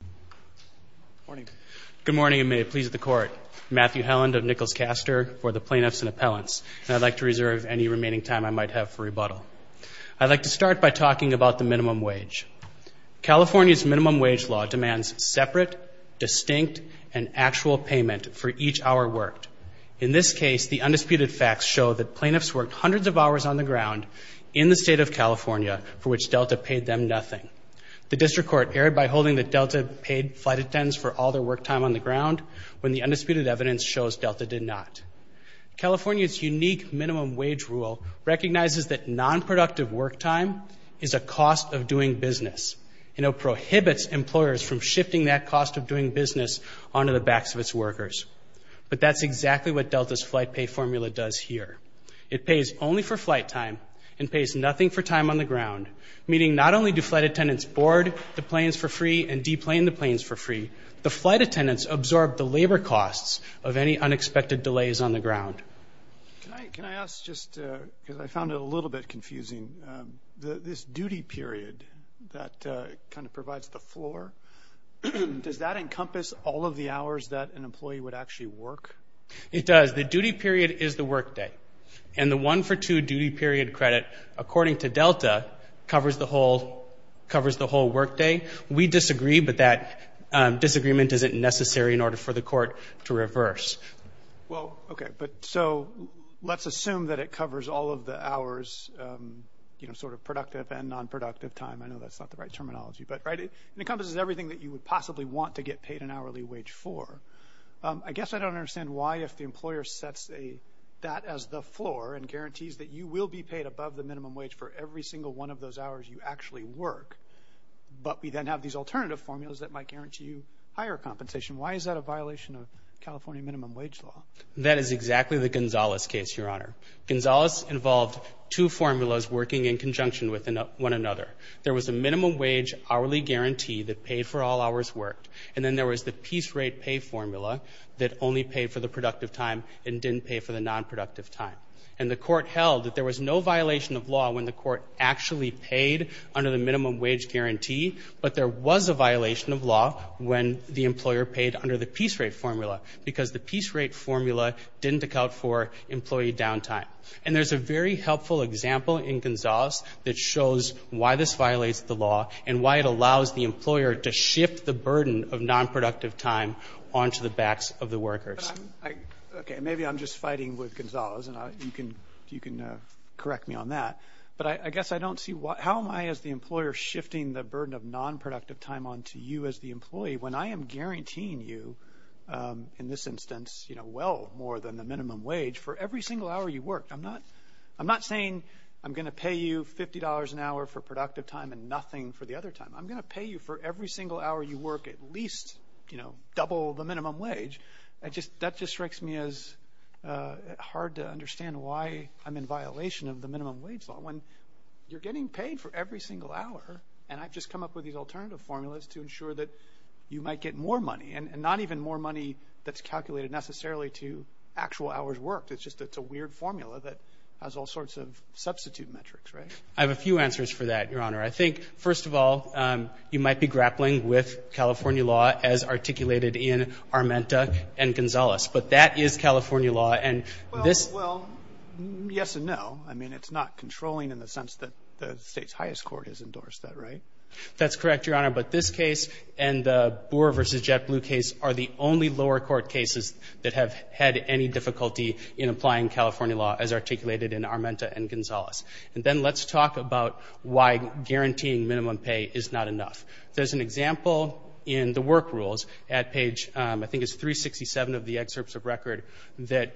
Good morning. Good morning, and may it please the Court. Matthew Helland of Nichols-Castor for the Plaintiffs and Appellants, and I'd like to reserve any remaining time I might have for rebuttal. I'd like to start by talking about the minimum wage. California's minimum wage law demands separate, distinct, and actual payment for each hour worked. In this case, the undisputed facts show that plaintiffs worked hundreds of hours on the ground in the state of California for which Delta paid them nothing. The District Court erred by holding that Delta paid flight attendants for all their work time on the ground when the undisputed evidence shows Delta did not. California's unique minimum wage rule recognizes that nonproductive work time is a cost of doing business, and it prohibits employers from shifting that cost of doing business onto the backs of its workers. But that's exactly what Delta's flight pay formula does here. It pays only for flight time and pays nothing for time on the ground, meaning not only do flight attendants board the planes for free and deplane the planes for free, the flight attendants absorb the labor costs of any unexpected delays on the ground. Can I ask just, because I found it a little bit confusing, this duty period that kind of provides the floor, does that encompass all of the hours that an employee would actually work? It does. The duty period is the work day, and the one-for-two duty period credit, according to Delta, covers the whole work day. We disagree, but that disagreement isn't necessary in order for the court to reverse. Well, okay, but so let's assume that it covers all of the hours, you know, sort of productive and nonproductive time. I know that's not the right terminology, but it encompasses everything that you would possibly want to get paid an hourly wage for. I guess I don't understand why if the employer sets that as the floor and guarantees that you will be paid above the minimum wage for every single one of those hours you actually work, but we then have these alternative formulas that might guarantee you higher compensation. Why is that a violation of California minimum wage law? That is exactly the Gonzales case, Your Honor. Gonzales involved two formulas working in conjunction with one another. There was a minimum wage hourly guarantee that paid for all hours worked, and then there was the piece rate pay formula that only paid for the productive time and didn't pay for the nonproductive time. And the court held that there was no violation of law when the court actually paid under the minimum wage guarantee, but there was a violation of law when the employer paid under the piece rate formula because the piece rate formula didn't account for employee downtime. And there's a very helpful example in Gonzales that shows why this violates the law and why it allows the employer to shift the burden of nonproductive time onto the backs of the workers. Okay, maybe I'm just fighting with Gonzales, and you can correct me on that, but I guess I don't see how am I as the employer shifting the burden of nonproductive time onto you as the employee when I am guaranteeing you in this instance well more than the minimum wage for every single hour you work. I'm not saying I'm going to pay you $50 an hour for productive time and nothing for the other time. I'm going to pay you for every single hour you work at least double the minimum wage. That just strikes me as hard to understand why I'm in violation of the minimum wage law when you're getting paid for every single hour, and I've just come up with these alternative formulas to ensure that you might get more money, and not even more money that's calculated necessarily to actual hours worked. It's just it's a weird formula that has all sorts of substitute metrics, right? I have a few answers for that, Your Honor. I think, first of all, you might be grappling with California law as articulated in Armenta and Gonzales, but that is California law, and this— Well, yes and no. I mean, it's not controlling in the sense that the state's highest court has endorsed that, right? That's correct, Your Honor, but this case and the Boor v. JetBlue case are the only lower court cases that have had any difficulty in applying California law as articulated in Armenta and Gonzales. And then let's talk about why guaranteeing minimum pay is not enough. There's an example in the work rules at page, I think it's 367 of the excerpts of record, that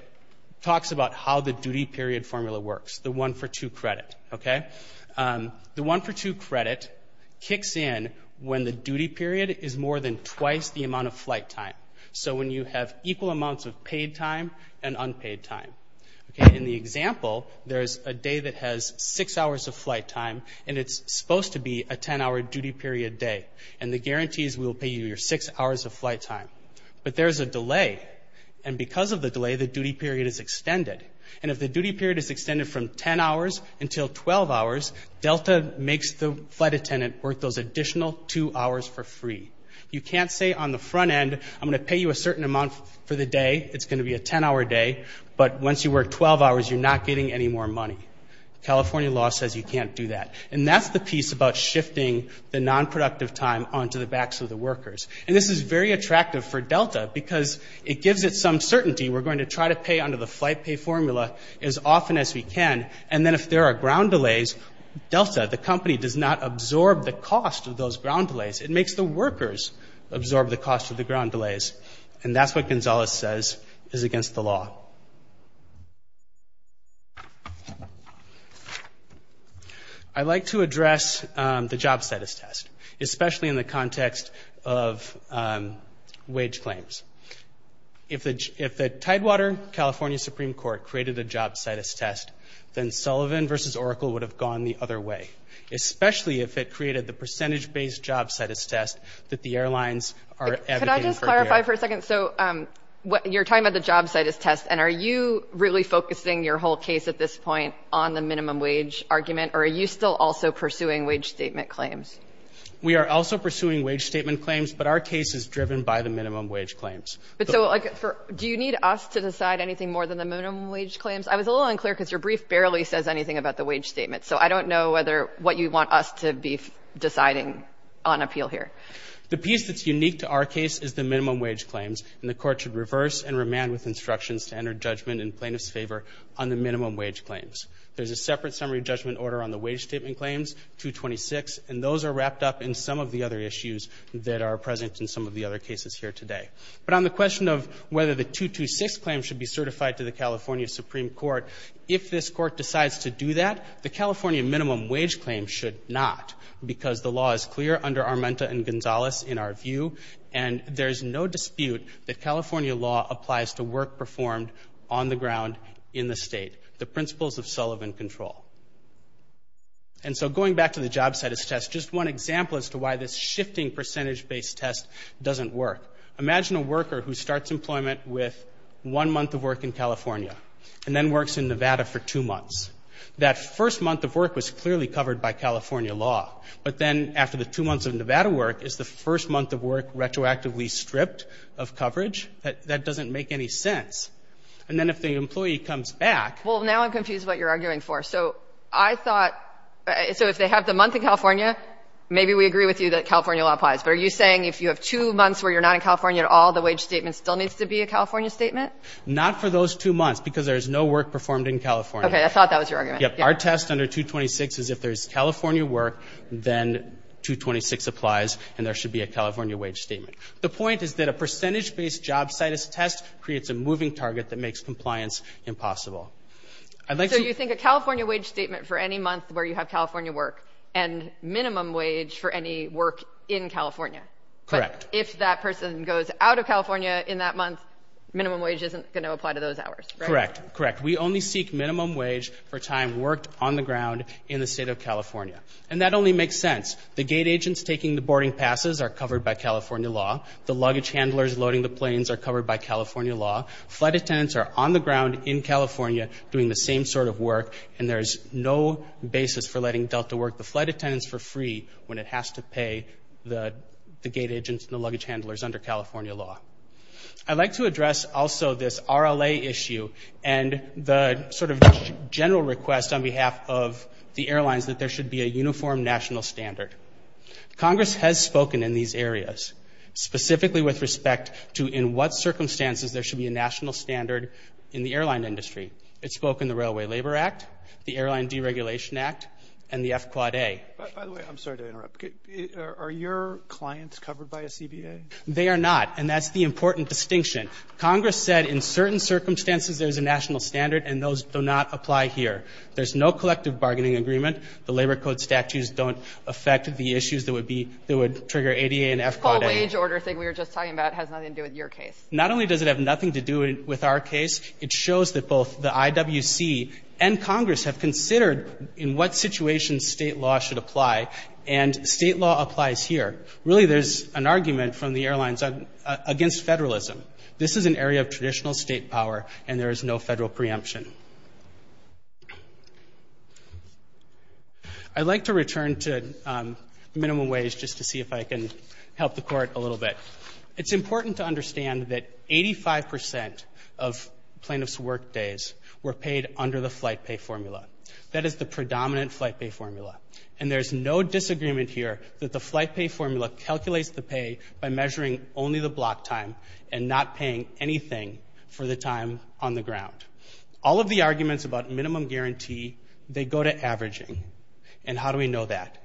talks about how the duty period formula works, the one-for-two credit, okay? The one-for-two credit kicks in when the duty period is more than twice the amount of flight time, so when you have equal amounts of paid time and unpaid time. In the example, there's a day that has six hours of flight time, and it's supposed to be a 10-hour duty period day, and the guarantees will pay you your six hours of flight time. But there's a delay, and because of the delay, the duty period is extended. And if the duty period is extended from 10 hours until 12 hours, Delta makes the flight attendant work those additional two hours for free. You can't say on the front end, I'm going to pay you a certain amount for the day, it's going to be a 10-hour day, but once you work 12 hours, you're not getting any more money. California law says you can't do that. And that's the piece about shifting the nonproductive time onto the backs of the workers. And this is very attractive for Delta because it gives it some certainty. We're going to try to pay under the flight pay formula as often as we can, and then if there are ground delays, Delta, the company, does not absorb the cost of those ground delays. It makes the workers absorb the cost of the ground delays. And that's what Gonzalez says is against the law. I'd like to address the job status test, especially in the context of wage claims. If the Tidewater California Supreme Court created a job status test, then Sullivan versus Oracle would have gone the other way, especially if it created the percentage-based job status test that the airlines are advocating for here. Could I just clarify for a second? So you're talking about the job status test, and are you really focusing your whole case at this point on the minimum wage argument, or are you still also pursuing wage statement claims? We are also pursuing wage statement claims, but our case is driven by the minimum wage claims. Do you need us to decide anything more than the minimum wage claims? I was a little unclear because your brief barely says anything about the wage statement, so I don't know what you want us to be deciding on appeal here. The piece that's unique to our case is the minimum wage claims, and the court should reverse and remand with instructions to enter judgment in plaintiff's favor on the minimum wage claims. There's a separate summary judgment order on the wage statement claims, 226, and those are wrapped up in some of the other issues that are present in some of the other cases here today. But on the question of whether the 226 claim should be certified to the California Supreme Court, if this court decides to do that, the California minimum wage claim should not because the law is clear under Armenta and Gonzales in our view, and there's no dispute that California law applies to work performed on the ground in the state, the principles of Sullivan control. And so going back to the job status test, just one example as to why this shifting percentage-based test doesn't work. Imagine a worker who starts employment with one month of work in California and then works in Nevada for two months. That first month of work was clearly covered by California law, but then after the two months of Nevada work, is the first month of work retroactively stripped of coverage? That doesn't make any sense. And then if the employee comes back – Well, now I'm confused what you're arguing for. So I thought – so if they have the month in California, maybe we agree with you that California law applies. But are you saying if you have two months where you're not in California at all, the wage statement still needs to be a California statement? Not for those two months because there's no work performed in California. Okay. I thought that was your argument. Yep. Our test under 226 is if there's California work, then 226 applies and there should be a California wage statement. The point is that a percentage-based job status test creates a moving target that makes compliance impossible. So you think a California wage statement for any month where you have California work and minimum wage for any work in California? Correct. But if that person goes out of California in that month, minimum wage isn't going to apply to those hours, right? Correct. Correct. We only seek minimum wage for time worked on the ground in the state of California. And that only makes sense. The gate agents taking the boarding passes are covered by California law. The luggage handlers loading the planes are covered by California law. Flight attendants are on the ground in California doing the same sort of work, and there's no basis for letting Delta work the flight attendants for free when it has to pay the gate agents and the luggage handlers under California law. I'd like to address also this RLA issue and the sort of general request on behalf of the airlines that there should be a uniform national standard. Congress has spoken in these areas, specifically with respect to in what circumstances there should be a national standard in the airline industry. It spoke in the Railway Labor Act, the Airline Deregulation Act, and the FQAA. By the way, I'm sorry to interrupt. Are your clients covered by a CBA? They are not, and that's the important distinction. Congress said in certain circumstances there's a national standard, and those do not apply here. There's no collective bargaining agreement. The Labor Code statutes don't affect the issues that would trigger ADA and FQAA. The whole wage order thing we were just talking about has nothing to do with your case. Not only does it have nothing to do with our case, it shows that both the IWC and Congress have considered in what situations state law should apply, and state law applies here. Really, there's an argument from the airlines against federalism. This is an area of traditional state power, and there is no federal preemption. I'd like to return to minimum wage just to see if I can help the Court a little bit. It's important to understand that 85 percent of plaintiffs' work days were paid under the flight pay formula. That is the predominant flight pay formula, and there's no disagreement here that the flight pay formula calculates the pay by measuring only the block time and not paying anything for the time on the ground. All of the arguments about minimum guarantee, they go to averaging. And how do we know that?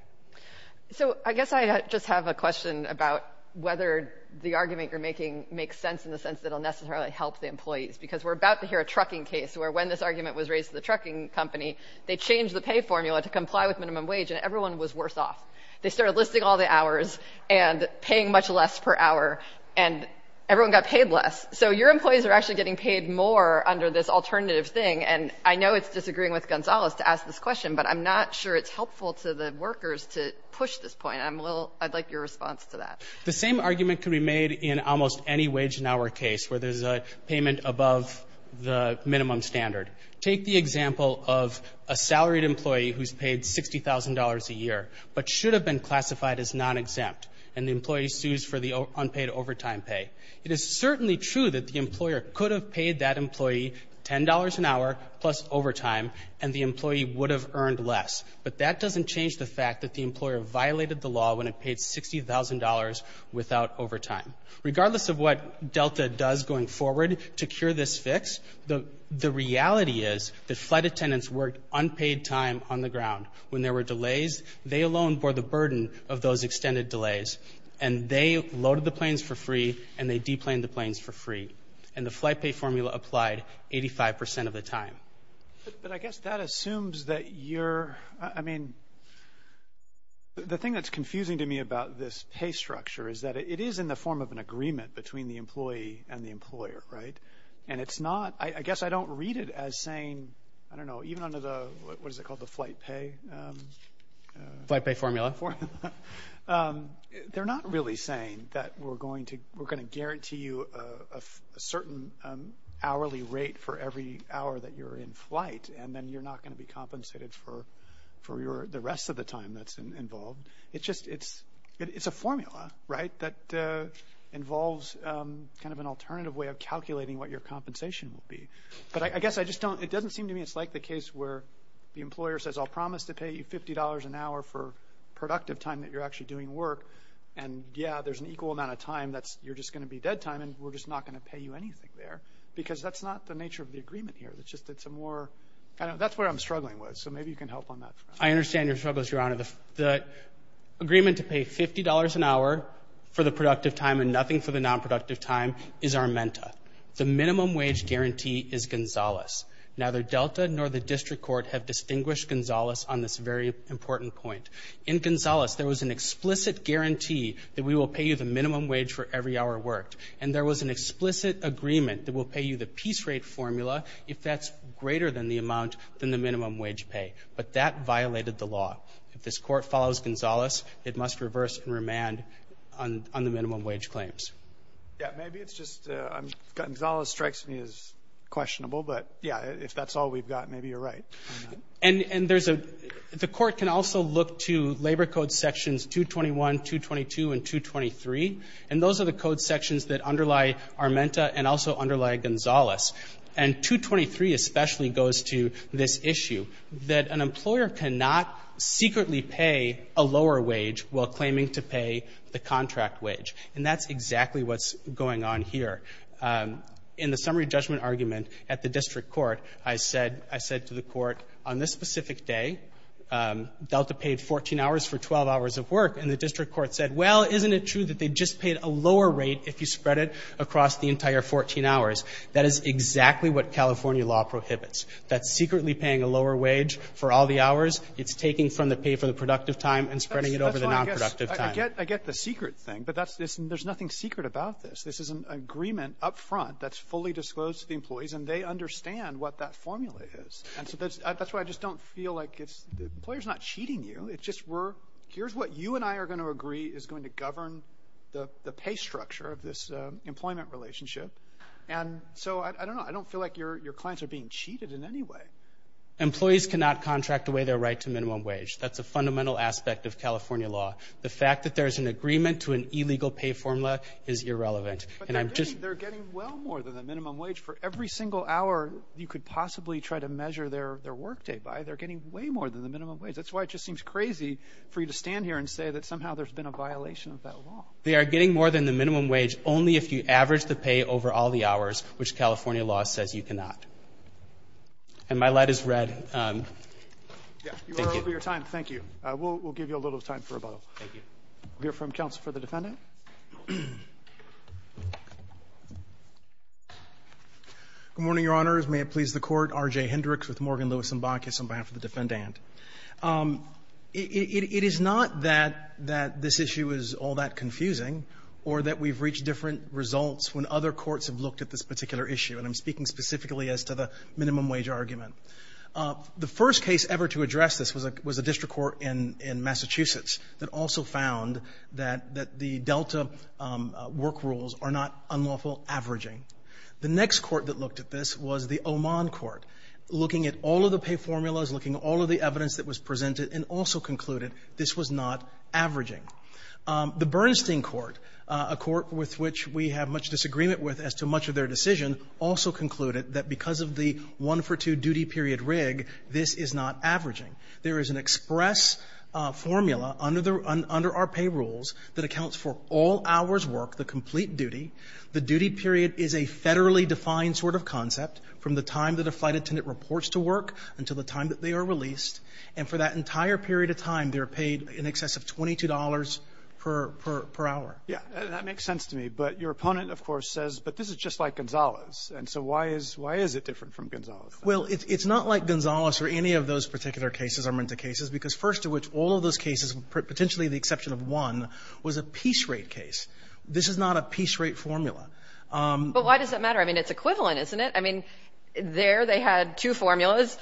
So I guess I just have a question about whether the argument you're making makes sense in the sense that it'll necessarily help the employees, because we're about to hear a trucking case where when this argument was raised to the trucking company, they changed the pay formula to comply with minimum wage, and everyone was worse off. They started listing all the hours and paying much less per hour, and everyone got paid less. So your employees are actually getting paid more under this alternative thing, and I know it's disagreeing with Gonzales to ask this question, but I'm not sure it's helpful to the workers to push this point. I'd like your response to that. The same argument can be made in almost any wage in our case where there's a payment above the minimum standard. Take the example of a salaried employee who's paid $60,000 a year but should have been classified as non-exempt, and the employee sues for the unpaid overtime pay. It is certainly true that the employer could have paid that employee $10 an hour plus overtime, and the employee would have earned less, but that doesn't change the fact that the employer violated the law when it paid $60,000 without overtime. Regardless of what Delta does going forward to cure this fix, the reality is that flight attendants worked unpaid time on the ground. When there were delays, they alone bore the burden of those extended delays, and they loaded the planes for free and they deplaned the planes for free, and the flight pay formula applied 85% of the time. But I guess that assumes that you're, I mean, the thing that's confusing to me about this pay structure is that it is in the form of an agreement between the employee and the employer, right? And it's not, I guess I don't read it as saying, I don't know, even under the, what is it called, the flight pay? Flight pay formula. They're not really saying that we're going to guarantee you a certain hourly rate for every hour that you're in flight, and then you're not going to be compensated for the rest of the time that's involved. It's just, it's a formula, right, that involves kind of an alternative way of calculating what your compensation would be. But I guess I just don't, it doesn't seem to me it's like the case where the employer says, I'll promise to pay you $50 an hour for productive time that you're actually doing work, and, yeah, there's an equal amount of time that you're just going to be dead time, and we're just not going to pay you anything there, because that's not the nature of the agreement here. It's just it's a more, that's where I'm struggling with, so maybe you can help on that front. I understand your struggles, Your Honor. The agreement to pay $50 an hour for the productive time and nothing for the nonproductive time is our MENTA. The minimum wage guarantee is Gonzales. Neither Delta nor the district court have distinguished Gonzales on this very important point. In Gonzales, there was an explicit guarantee that we will pay you the minimum wage for every hour worked, and there was an explicit agreement that we'll pay you the piece rate formula if that's greater than the amount than the minimum wage pay, but that violated the law. If this court follows Gonzales, it must reverse and remand on the minimum wage claims. Yeah, maybe it's just Gonzales strikes me as questionable, but, yeah, if that's all we've got, maybe you're right on that. And there's a, the court can also look to Labor Code sections 221, 222, and 223, and those are the code sections that underlie our MENTA and also underlie Gonzales, and 223 especially goes to this issue that an employer cannot secretly pay a lower wage while claiming to pay the contract wage, and that's exactly what's going on here. In the summary judgment argument at the district court, I said, I said to the court, on this specific day, Delta paid 14 hours for 12 hours of work, and the district court said, well, isn't it true that they just paid a lower rate if you spread it across the entire 14 hours? That is exactly what California law prohibits. That's secretly paying a lower wage for all the hours it's taking from the pay for the productive time and spreading it over the nonproductive time. I get the secret thing, but there's nothing secret about this. This is an agreement up front that's fully disclosed to the employees, and they understand what that formula is, and so that's why I just don't feel like it's, the employer's not cheating you. It's just we're, here's what you and I are going to agree is going to govern the pay structure of this employment relationship, and so I don't know. I don't feel like your clients are being cheated in any way. Employees cannot contract away their right to minimum wage. That's a fundamental aspect of California law. The fact that there's an agreement to an illegal pay formula is irrelevant. But they're getting well more than the minimum wage. For every single hour you could possibly try to measure their work day by, they're getting way more than the minimum wage. That's why it just seems crazy for you to stand here and say that somehow there's been a violation of that law. They are getting more than the minimum wage only if you average the pay over all the hours, which California law says you cannot. And my light is red. Yeah, you are over your time. Thank you. We'll give you a little time for rebuttal. Thank you. We'll hear from counsel for the defendant. Good morning, Your Honors. May it please the Court. R.J. Hendricks with Morgan, Lewis & Bacchus on behalf of the defendant. It is not that this issue is all that confusing or that we've reached different results when other courts have looked at this particular issue, and I'm speaking specifically as to the minimum wage argument. The first case ever to address this was a district court in Massachusetts that also found that the Delta work rules are not unlawful averaging. The next court that looked at this was the Oman court, looking at all of the pay formulas, looking at all of the evidence that was presented, and also concluded this was not averaging. The Bernstein court, a court with which we have much disagreement with as to much of their decision, also concluded that because of the one-for-two duty period rig, this is not averaging. There is an express formula under our pay rules that accounts for all hours' work, the complete duty. The duty period is a federally defined sort of concept from the time that a flight attendant reports to work until the time that they are released. And for that entire period of time, they are paid in excess of $22 per hour. Yeah. That makes sense to me. But your opponent, of course, says, but this is just like Gonzales. And so why is it different from Gonzales? Well, it's not like Gonzales or any of those particular cases are meant to cases because first of which all of those cases, potentially the exception of one, was a piece rate case. This is not a piece rate formula. But why does that matter? I mean, it's equivalent, isn't it? I mean, there they had two formulas.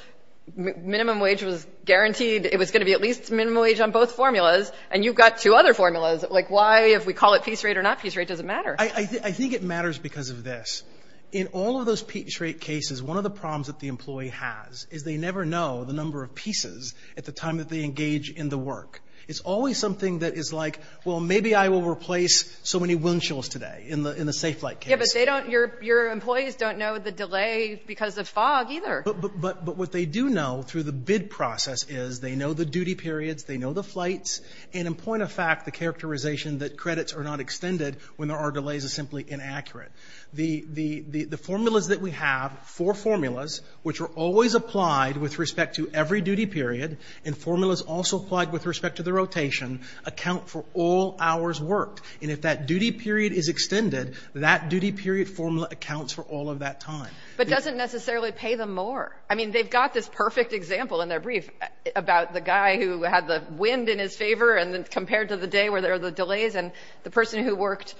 Minimum wage was guaranteed. It was going to be at least minimum wage on both formulas. And you've got two other formulas. Why, if we call it piece rate or not piece rate, does it matter? I think it matters because of this. In all of those piece rate cases, one of the problems that the employee has is they never know the number of pieces at the time that they engage in the work. It's always something that is like, well, maybe I will replace so many wind chills today in the safe flight case. Yeah, but your employees don't know the delay because of fog either. But what they do know through the bid process is they know the duty periods. They know the flights. And in point of fact, the characterization that credits are not extended when there are delays is simply inaccurate. The formulas that we have, four formulas, which are always applied with respect to every duty period, and formulas also applied with respect to the rotation, account for all hours worked. And if that duty period is extended, that duty period formula accounts for all of that time. But it doesn't necessarily pay them more. I mean, they've got this perfect example in their brief about the guy who had the wind in his favor and then compared to the day where there are the delays and the person who worked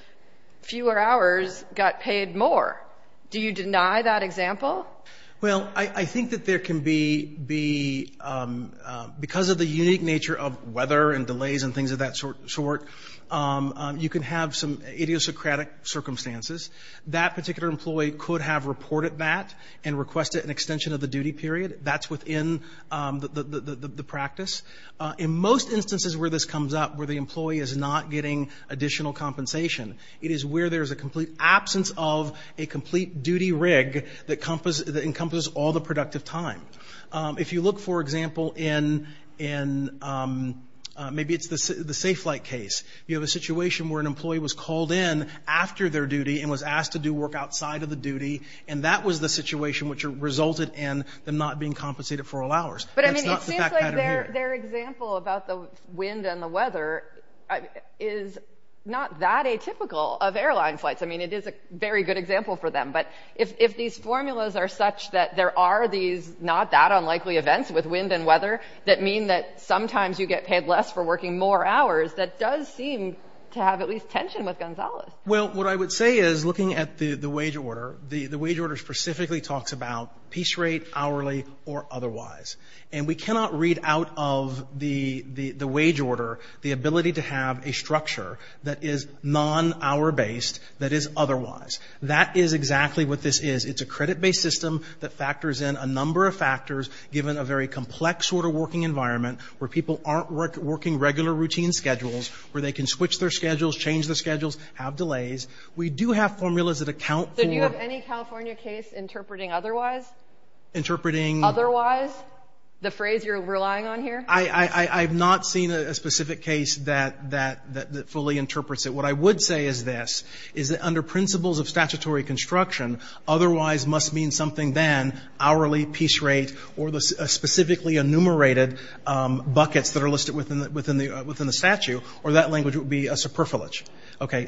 fewer hours got paid more. Do you deny that example? Well, I think that there can be, because of the unique nature of weather and delays and things of that sort, you can have some idiosyncratic circumstances. That particular employee could have reported that and requested an extension of the duty period. That's within the practice. In most instances where this comes up, where the employee is not getting additional compensation, it is where there is a complete absence of a complete duty rig that encompasses all the productive time. If you look, for example, in maybe it's the Safe Flight case, you have a situation where an employee was called in after their duty and was asked to do work outside of the duty, and that was the situation which resulted in them not being compensated for all hours. But I mean, it seems like their example about the wind and the weather is not that atypical of airline flights. I mean, it is a very good example for them. But if these formulas are such that there are these not that unlikely events with wind and weather that mean that sometimes you get paid less for working more hours, that does seem to have at least tension with Gonzalez. Well, what I would say is looking at the wage order, the wage order specifically talks about piece rate, hourly, or otherwise. And we cannot read out of the wage order the ability to have a structure that is non-hour based that is otherwise. That is exactly what this is. It's a credit-based system that factors in a number of factors given a very complex sort of working environment where people aren't working regular routine schedules, where they can switch their schedules, change their schedules, have delays. We do have formulas that account for... So do you have any California case interpreting otherwise? Interpreting... Otherwise, the phrase you're relying on here? I've not seen a specific case that fully interprets it. What I would say is this, is that under principles of statutory construction, otherwise must mean something then, hourly, piece rate, or the specifically enumerated buckets that are listed within the statute. Or that language would be a superfluous.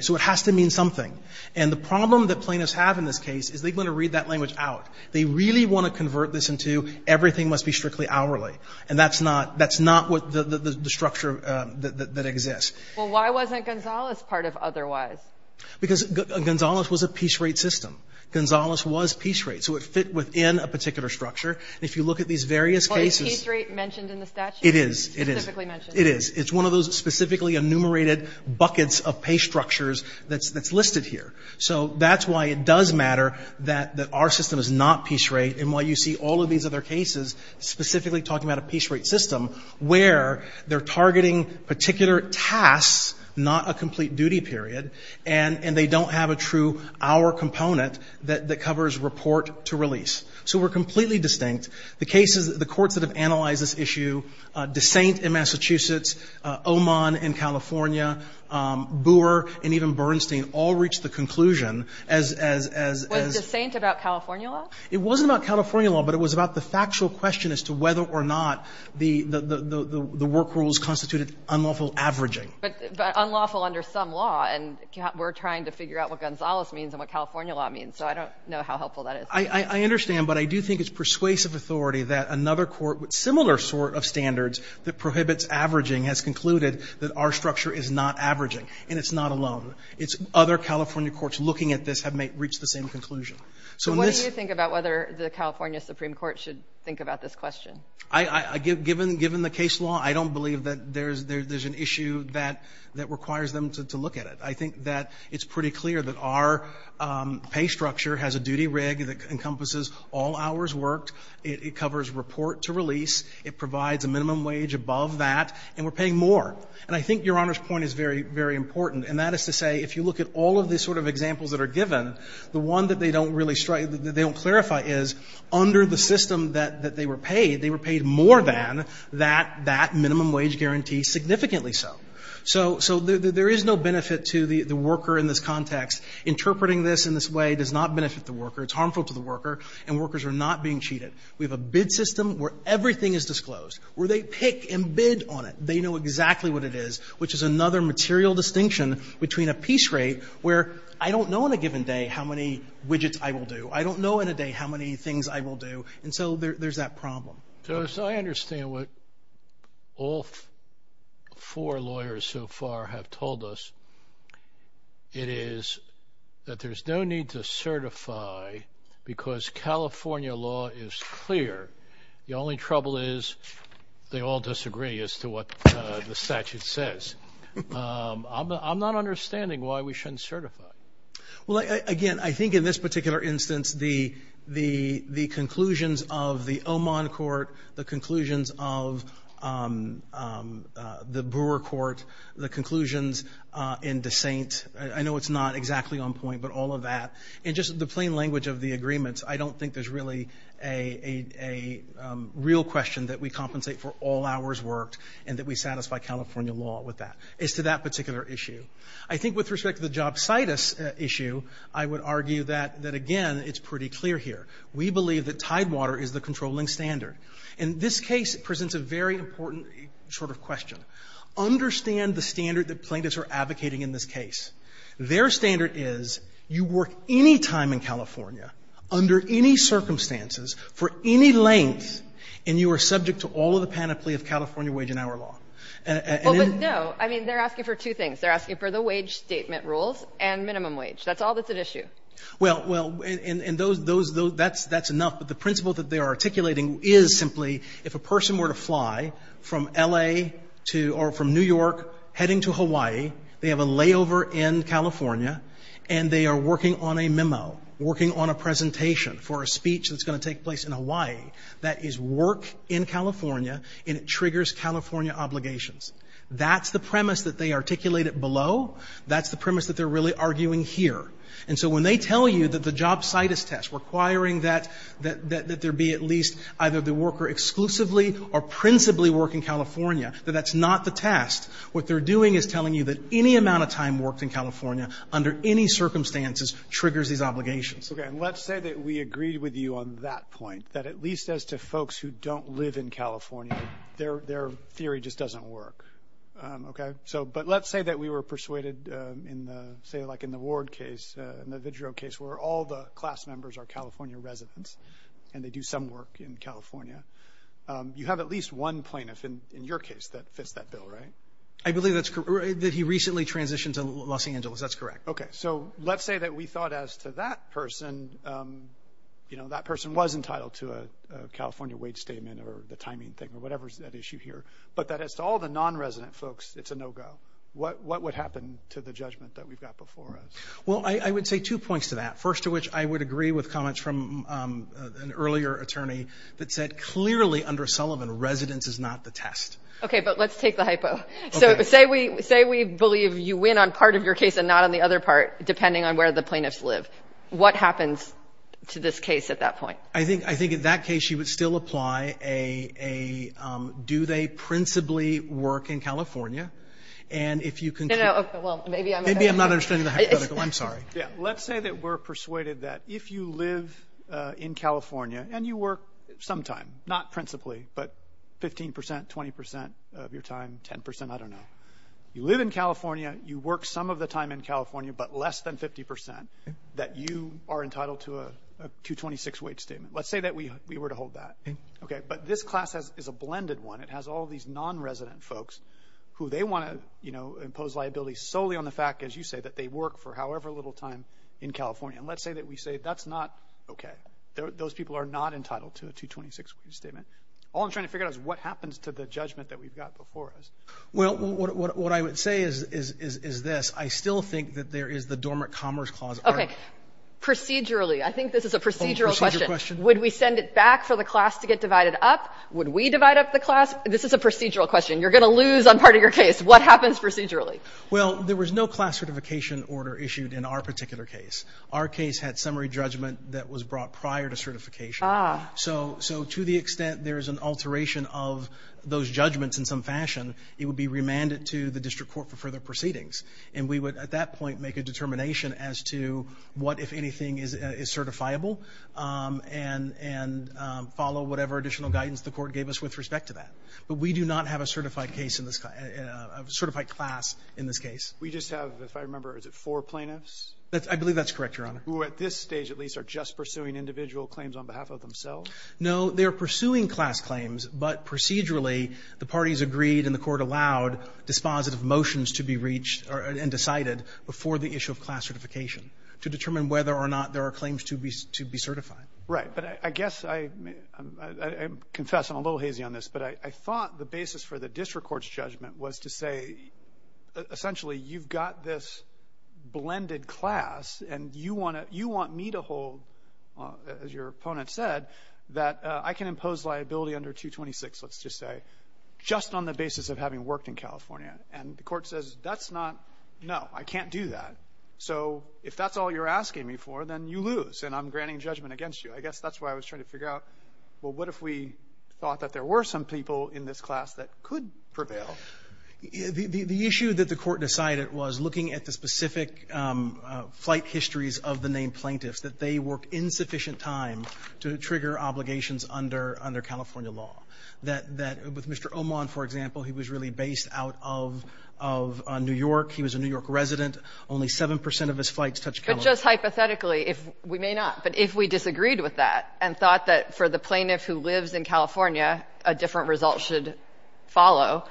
So it has to mean something. And the problem that plaintiffs have in this case is they're going to read that language out. They really want to convert this into everything must be strictly hourly. And that's not the structure that exists. Well, why wasn't Gonzales part of otherwise? Because Gonzales was a piece rate system. Gonzales was piece rate. So it fit within a particular structure. And if you look at these various cases... Is piece rate mentioned in the statute? It is. It is. It's one of those specifically enumerated buckets of pay structures that's listed here. So that's why it does matter that our system is not piece rate and why you see all of these other cases specifically talking about a piece rate system where they're targeting particular tasks, not a complete duty period, and they don't have a true hour component that covers report to release. So we're completely distinct. The cases, the courts that have analyzed this issue, DeSaint in Massachusetts, Oman in California, Boor and even Bernstein all reached the conclusion as... Was DeSaint about California law? It wasn't about California law, but it was about the factual question as to whether or not the work rules constituted unlawful averaging. But unlawful under some law, and we're trying to figure out what Gonzales means and what California law means. So I don't know how helpful that is. I understand, but I do think it's persuasive authority that another court with similar sort of standards that prohibits averaging has concluded that our structure is not averaging, and it's not alone. It's other California courts looking at this have reached the same conclusion. So in this... So what do you think about whether the California Supreme Court should think about this question? Given the case law, I don't believe that there's an issue that requires them to look at it. I think that it's pretty clear that our pay structure has a duty rig that encompasses all hours worked. It covers report to release. It provides a minimum wage above that, and we're paying more. And I think Your Honor's point is very, very important, and that is to say if you look at all of the sort of examples that are given, the one that they don't really strike, that they don't clarify is under the system that they were paid, they were paid more than that minimum wage guarantee, significantly so. So there is no benefit to the worker in this context. Interpreting this in this way does not benefit the worker. It's harmful to the worker, and workers are not being cheated. We have a bid system where everything is disclosed, where they pick and bid on it. They know exactly what it is, which is another material distinction between a piece rate where I don't know in a given day how many widgets I will do. I don't know in a day how many things I will do. And so there's that problem. So as I understand what all four lawyers so far have told us, it is that there's no need to certify because California law is clear. The only trouble is they all disagree as to what the statute says. I'm not understanding why we shouldn't certify. Well, again, I think in this particular instance, the conclusions of the Oman court, the conclusions of the Brewer court, the conclusions in DeSaint, I know it's not exactly on point, but all of that, and just the plain language of the agreements, I don't think there's really a real question that we compensate for all hours worked and that we satisfy California law with that, as to that particular issue. I think with respect to the jobsitis issue, I would argue that, again, it's pretty clear here. We believe that tidewater is the controlling standard. And this case presents a very important sort of question. Understand the standard that plaintiffs are advocating in this case. Their standard is you work any time in California, under any circumstances, for any length, and you are subject to all of the panoply of California wage and hour law. And in the law, I mean, they're asking for two things. They're asking for the wage statement rules and minimum wage. That's all that's at issue. Well, and those, that's enough. But the principle that they are articulating is simply, if a person were to fly from L.A. to, or from New York, heading to Hawaii, they have a layover in California, and they are working on a memo, working on a presentation for a speech that's going to take place in Hawaii, that is work in California, and it triggers California obligations. That's the premise that they articulated below. That's the premise that they're really arguing here. And so when they tell you that the job situs test requiring that there be at least either the worker exclusively or principally work in California, that that's not the test, what they're doing is telling you that any amount of time worked in California under any circumstances triggers these obligations. Okay. And let's say that we agreed with you on that point, that at least as to folks who don't live in California, their theory just doesn't work. Okay. So, but let's say that we were persuaded in the, say, like, in the Ward case, in the Vidrio case, where all the class members are California residents, and they do some work in California. You have at least one plaintiff in your case that fits that bill, right? I believe that he recently transitioned to Los Angeles. That's correct. Okay. So let's say that we thought as to that person, you know, that person was entitled to a California wage statement or the timing thing or whatever's that issue here, but that as to all the non-resident folks, it's a no-go. What would happen to the judgment that we've got before us? Well, I would say two points to that. First to which I would agree with comments from an earlier attorney that said, clearly under Sullivan, residence is not the test. Okay. But let's take the hypo. So say we believe you win on part of your case and not on the other part, depending on where the plaintiffs live. What happens to this case at that point? I think in that case you would still apply a do they principally work in California and if you can. Maybe I'm not understanding the hypothetical. I'm sorry. Yeah. Let's say that we're persuaded that if you live in California and you work sometime, not principally, but 15%, 20% of your time, 10%, I don't know. You live in California. You work some of the time in California, but less than 50% that you are entitled to a 226 wage statement. Let's say that we were to hold that. Okay. But this class is a blended one. It has all of these non-resident folks who they want to impose liability solely on the fact, as you say, that they work for however little time in California. And let's say that we say that's not okay. Those people are not entitled to a 226 wage statement. All I'm trying to figure out is what happens to the judgment that we've got before us. Well, what I would say is this. I still think that there is the dormant commerce clause. Okay. Procedurally, I think this is a procedural question. Would we send it back for the class to get divided up? Would we divide up the class? This is a procedural question. You're going to lose on part of your case. What happens procedurally? Well, there was no class certification order issued in our particular case. Our case had summary judgment that was brought prior to certification. Ah. So to the extent there is an alteration of those judgments in some fashion, it would be remanded to the district court for further proceedings. And we would, at that point, make a determination as to what, if anything, is certifiable and follow whatever additional guidance the court gave us with respect to that. But we do not have a certified case in this – a certified class in this case. We just have, if I remember, is it four plaintiffs? I believe that's correct, Your Honor. Who, at this stage at least, are just pursuing individual claims on behalf of themselves? No. They are pursuing class claims, but procedurally, the parties agreed and the court allowed dispositive motions to be reached and decided before the issue of class certification to determine whether or not there are claims to be certified. Right. But I guess I – I confess I'm a little hazy on this, but I thought the basis for the district court's judgment was to say, essentially, you've got this blended class, and you want me to hold, as your opponent said, that I can impose liability under 226, let's just say, just on the basis of having worked in California. And the court says, that's not – no, I can't do that. So if that's all you're asking me for, then you lose, and I'm granting judgment against you. I guess that's why I was trying to figure out, well, what if we thought that there were some people in this class that could prevail? The issue that the court decided was, looking at the specific flight histories of the named plaintiffs, that they worked insufficient time to trigger obligations under California law. That with Mr. Omon, for example, he was really based out of New York. He was a New York resident. Only 7 percent of his flights touched California. But just hypothetically, if – we may not, but if we disagreed with that and thought that for the plaintiff who lives in California, a different result should follow.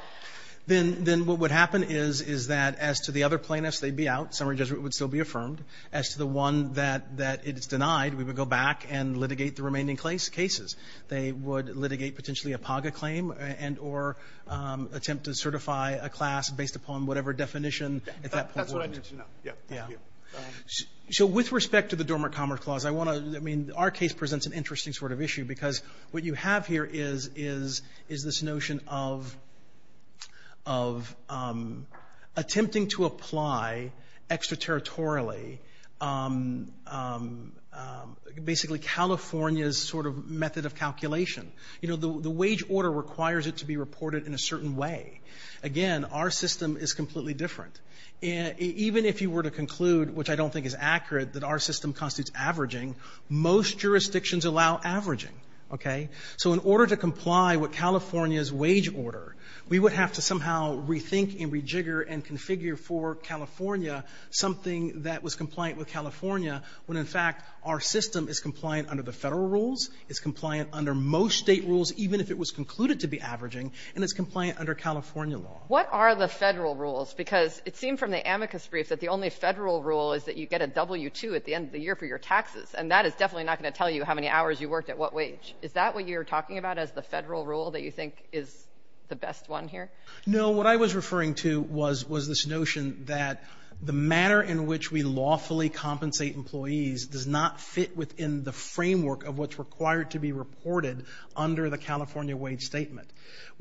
Then what would happen is, is that as to the other plaintiffs, they'd be out. Summary judgment would still be affirmed. As to the one that is denied, we would go back and litigate the remaining cases. They would litigate potentially a PAGA claim and or attempt to certify a class based upon whatever definition at that point. That's what I need to know. Yeah. Thank you. So with respect to the Dormant Commerce Clause, I want to – I mean, our case presents an interesting sort of issue because what you have here is this notion of attempting to apply extraterritorially basically California's sort of method of calculation. You know, the wage order requires it to be reported in a certain way. Again, our system is completely different. Even if you were to conclude, which I don't think is accurate, that our system constitutes averaging, most jurisdictions allow averaging. Okay? So in order to comply with California's wage order, we would have to somehow rethink and rejigger and configure for California something that was compliant with California when in fact our system is compliant under the federal rules, it's compliant under most state rules even if it was concluded to be averaging, and it's compliant under California law. What are the federal rules? Because it seemed from the amicus brief that the only federal rule is that you get a W-2 at the end of the year for your taxes, and that is definitely not going to tell you how many hours you worked at what wage. Is that what you're talking about as the federal rule that you think is the best one here? No. What I was referring to was this notion that the manner in which we lawfully compensate employees does not fit within the framework of what's required to be reported under the California wage statement.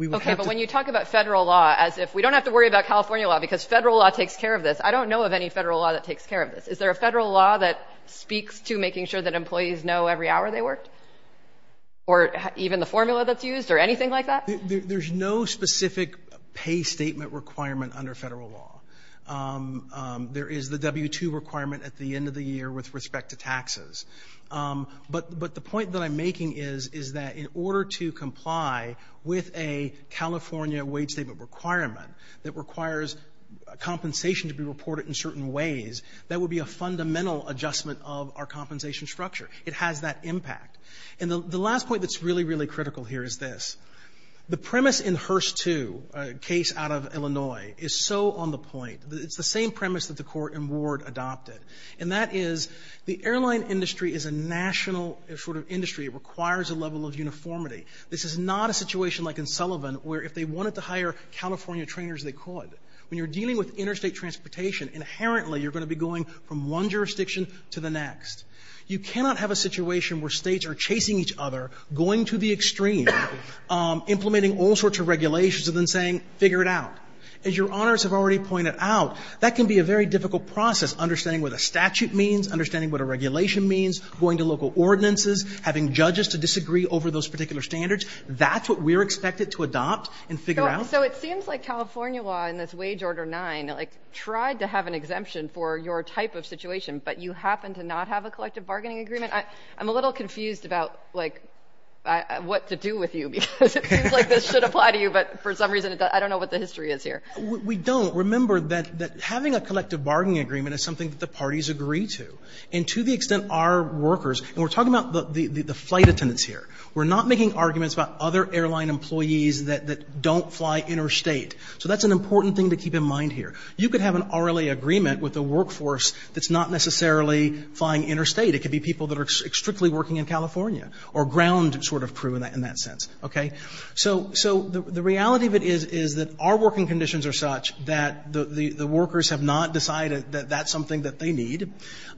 Okay, but when you talk about federal law as if we don't have to worry about California law because federal law takes care of this, I don't know of any federal law that takes care of this. Is there a federal law that speaks to making sure that employees know every hour they worked or even the formula that's used or anything like that? There's no specific pay statement requirement under federal law. There is the W-2 requirement at the end of the year with respect to taxes. But the point that I'm making is, is that in order to comply with a California wage statement requirement that requires compensation to be reported in certain ways, that would be a fundamental adjustment of our compensation structure. It has that impact. And the last point that's really, really critical here is this. The premise in Hearst 2, a case out of Illinois, is so on the point. It's the same premise that the Court in Ward adopted, and that is the airline industry is a national sort of industry. It requires a level of uniformity. This is not a situation like in Sullivan where if they wanted to hire California trainers, they could. When you're dealing with interstate transportation, inherently you're going to be going from one jurisdiction to the next. You cannot have a situation where states are chasing each other, going to the extreme, implementing all sorts of regulations and then saying, figure it out. As your honors have already pointed out, that can be a very difficult process, understanding what a statute means, understanding what a regulation means, going to local ordinances, having judges to disagree over those particular standards. That's what we're expected to adopt and figure out. So it seems like California law in this Wage Order 9 tried to have an exemption for your type of situation, but you happen to not have a collective bargaining agreement. I'm a little confused about, like, what to do with you because it seems like this should apply to you, but for some reason I don't know what the history is here. We don't. Remember that having a collective bargaining agreement is something that the parties agree to. And to the extent our workers, and we're talking about the flight attendants here, we're not making arguments about other airline employees that don't fly interstate. So that's an important thing to keep in mind here. You could have an RLA agreement with a workforce that's not necessarily flying interstate. It could be people that are strictly working in California or ground sort of crew in that sense. Okay? So the reality of it is that our working conditions are such that the workers have not decided that that's something that they need.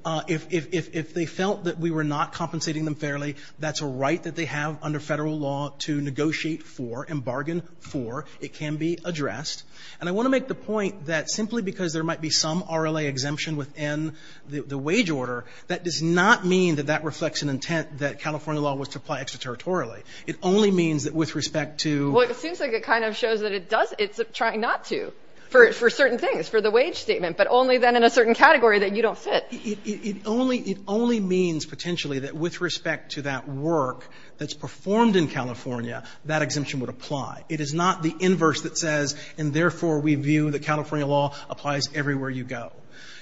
If they felt that we were not compensating them fairly, that's a right that they have under federal law to negotiate for and bargain for. It can be addressed. And I want to make the point that simply because there might be some RLA exemption within the wage order, that does not mean that that reflects an intent that California law was to apply extraterritorially. It only means that with respect to... Well, it seems like it kind of shows that it's trying not to for certain things, for the wage statement, but only then in a certain category that you don't fit. It only means potentially that with respect to that work that's performed in California, that exemption would apply. It is not the inverse that says, and therefore we view that California law applies everywhere you go.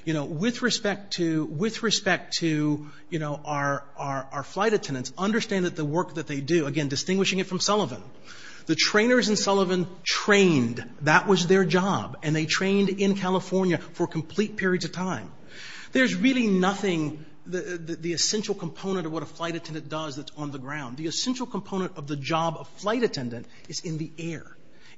With respect to our flight attendants, understand that the work that they do, again, distinguishing it from Sullivan, the trainers in Sullivan trained. That was their job. And they trained in California for complete periods of time. There's really nothing, the essential component of what a flight attendant does that's on the ground. The essential component of the job of flight attendant is in the air.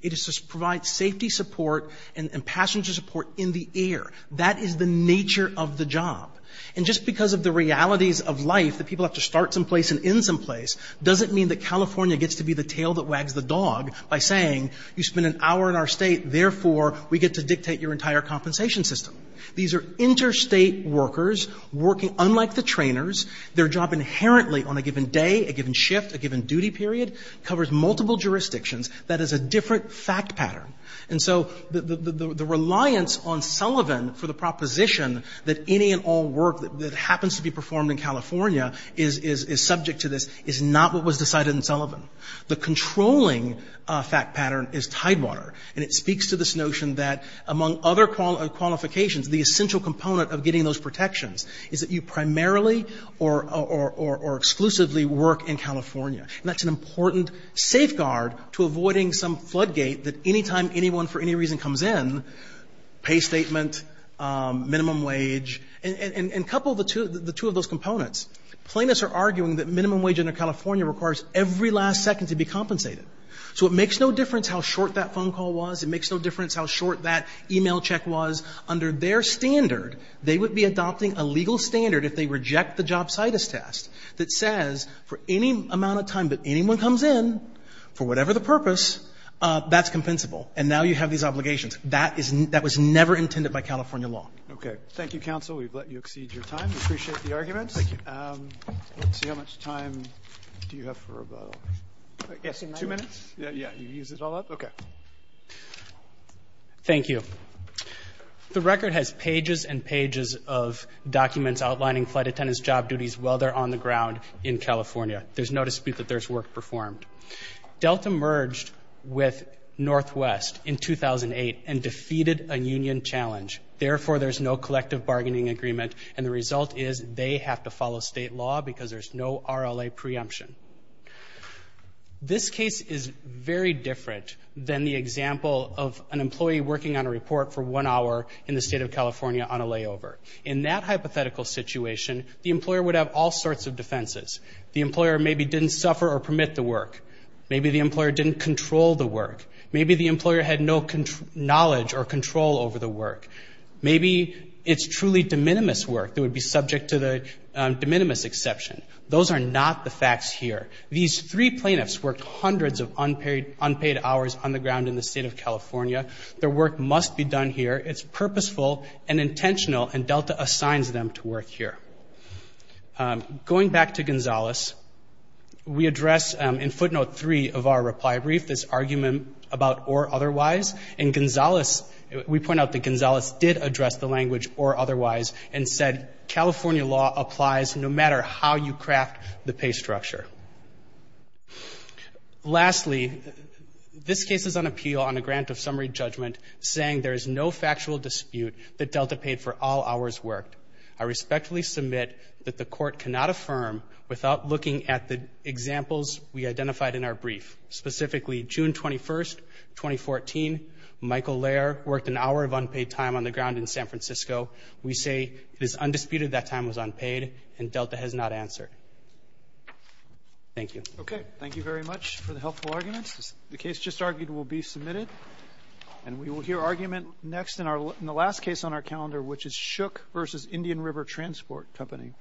It is to provide safety support and passenger support in the air. That is the nature of the job. And just because of the realities of life, that people have to start some place and end some place, doesn't mean that California gets to be the tail that wags the dog by saying you spend an hour in our state, therefore we get to dictate your entire compensation system. These are interstate workers working unlike the trainers. Their job inherently on a given day, a given shift, a given duty period, covers multiple jurisdictions. That is a different fact pattern. And so the reliance on Sullivan for the proposition that any and all work that happens to be performed in California is subject to this is not what was decided in Sullivan. The controlling fact pattern is Tidewater. And it speaks to this notion that among other qualifications, the essential component of getting those protections is that you primarily or exclusively work in California. And that's an important safeguard to avoiding some floodgate that any time anyone for any reason comes in, pay statement, minimum wage, and couple the two of those components. Plaintiffs are arguing that minimum wage under California requires every last second to be compensated. So it makes no difference how short that phone call was. It makes no difference how short that e-mail check was. Under their standard, they would be adopting a legal standard if they reject the jobsitis test that says for any amount of time that anyone comes in for whatever the purpose, that's compensable. And now you have these obligations. That was never intended by California law. Okay. Thank you, counsel. We've let you exceed your time. We appreciate the arguments. Thank you. Let's see how much time do you have for about, I guess, two minutes? Yeah, you use it all up? Okay. Thank you. The record has pages and pages of documents outlining flight attendants' job duties while they're on the ground in California. There's no dispute that there's work performed. Delta merged with Northwest in 2008 and defeated a union challenge. Therefore, there's no collective bargaining agreement, and the result is they have to follow state law because there's no RLA preemption. This case is very different than the example of an employee working on a report for one hour in the state of California on a layover. In that hypothetical situation, the employer would have all sorts of defenses. The employer maybe didn't suffer or permit the work. Maybe the employer didn't control the work. Maybe the employer had no knowledge or control over the work. Maybe it's truly de minimis work that would be subject to the de minimis exception. Those are not the facts here. These three plaintiffs worked hundreds of unpaid hours on the ground in the state of California. Their work must be done here. It's purposeful and intentional, and Delta assigns them to work here. Going back to Gonzales, we address in footnote three of our reply brief this argument about or otherwise, and Gonzales, we point out that Gonzales did address the language or otherwise and said California law applies no matter how you craft the pay structure. Lastly, this case is on appeal on a grant of summary judgment saying there is no factual dispute that Delta paid for all hours worked. I respectfully submit that the court cannot affirm without looking at the examples we identified in our brief. Specifically, June 21st, 2014, Michael Lair worked an hour of unpaid time on the ground in San Francisco. We say it is undisputed that time was unpaid and Delta has not answered. Thank you. Okay. Thank you very much for the helpful arguments. The case just argued will be submitted, and we will hear argument next in the last case on our calendar, which is Shook v. Indian River Transport Company.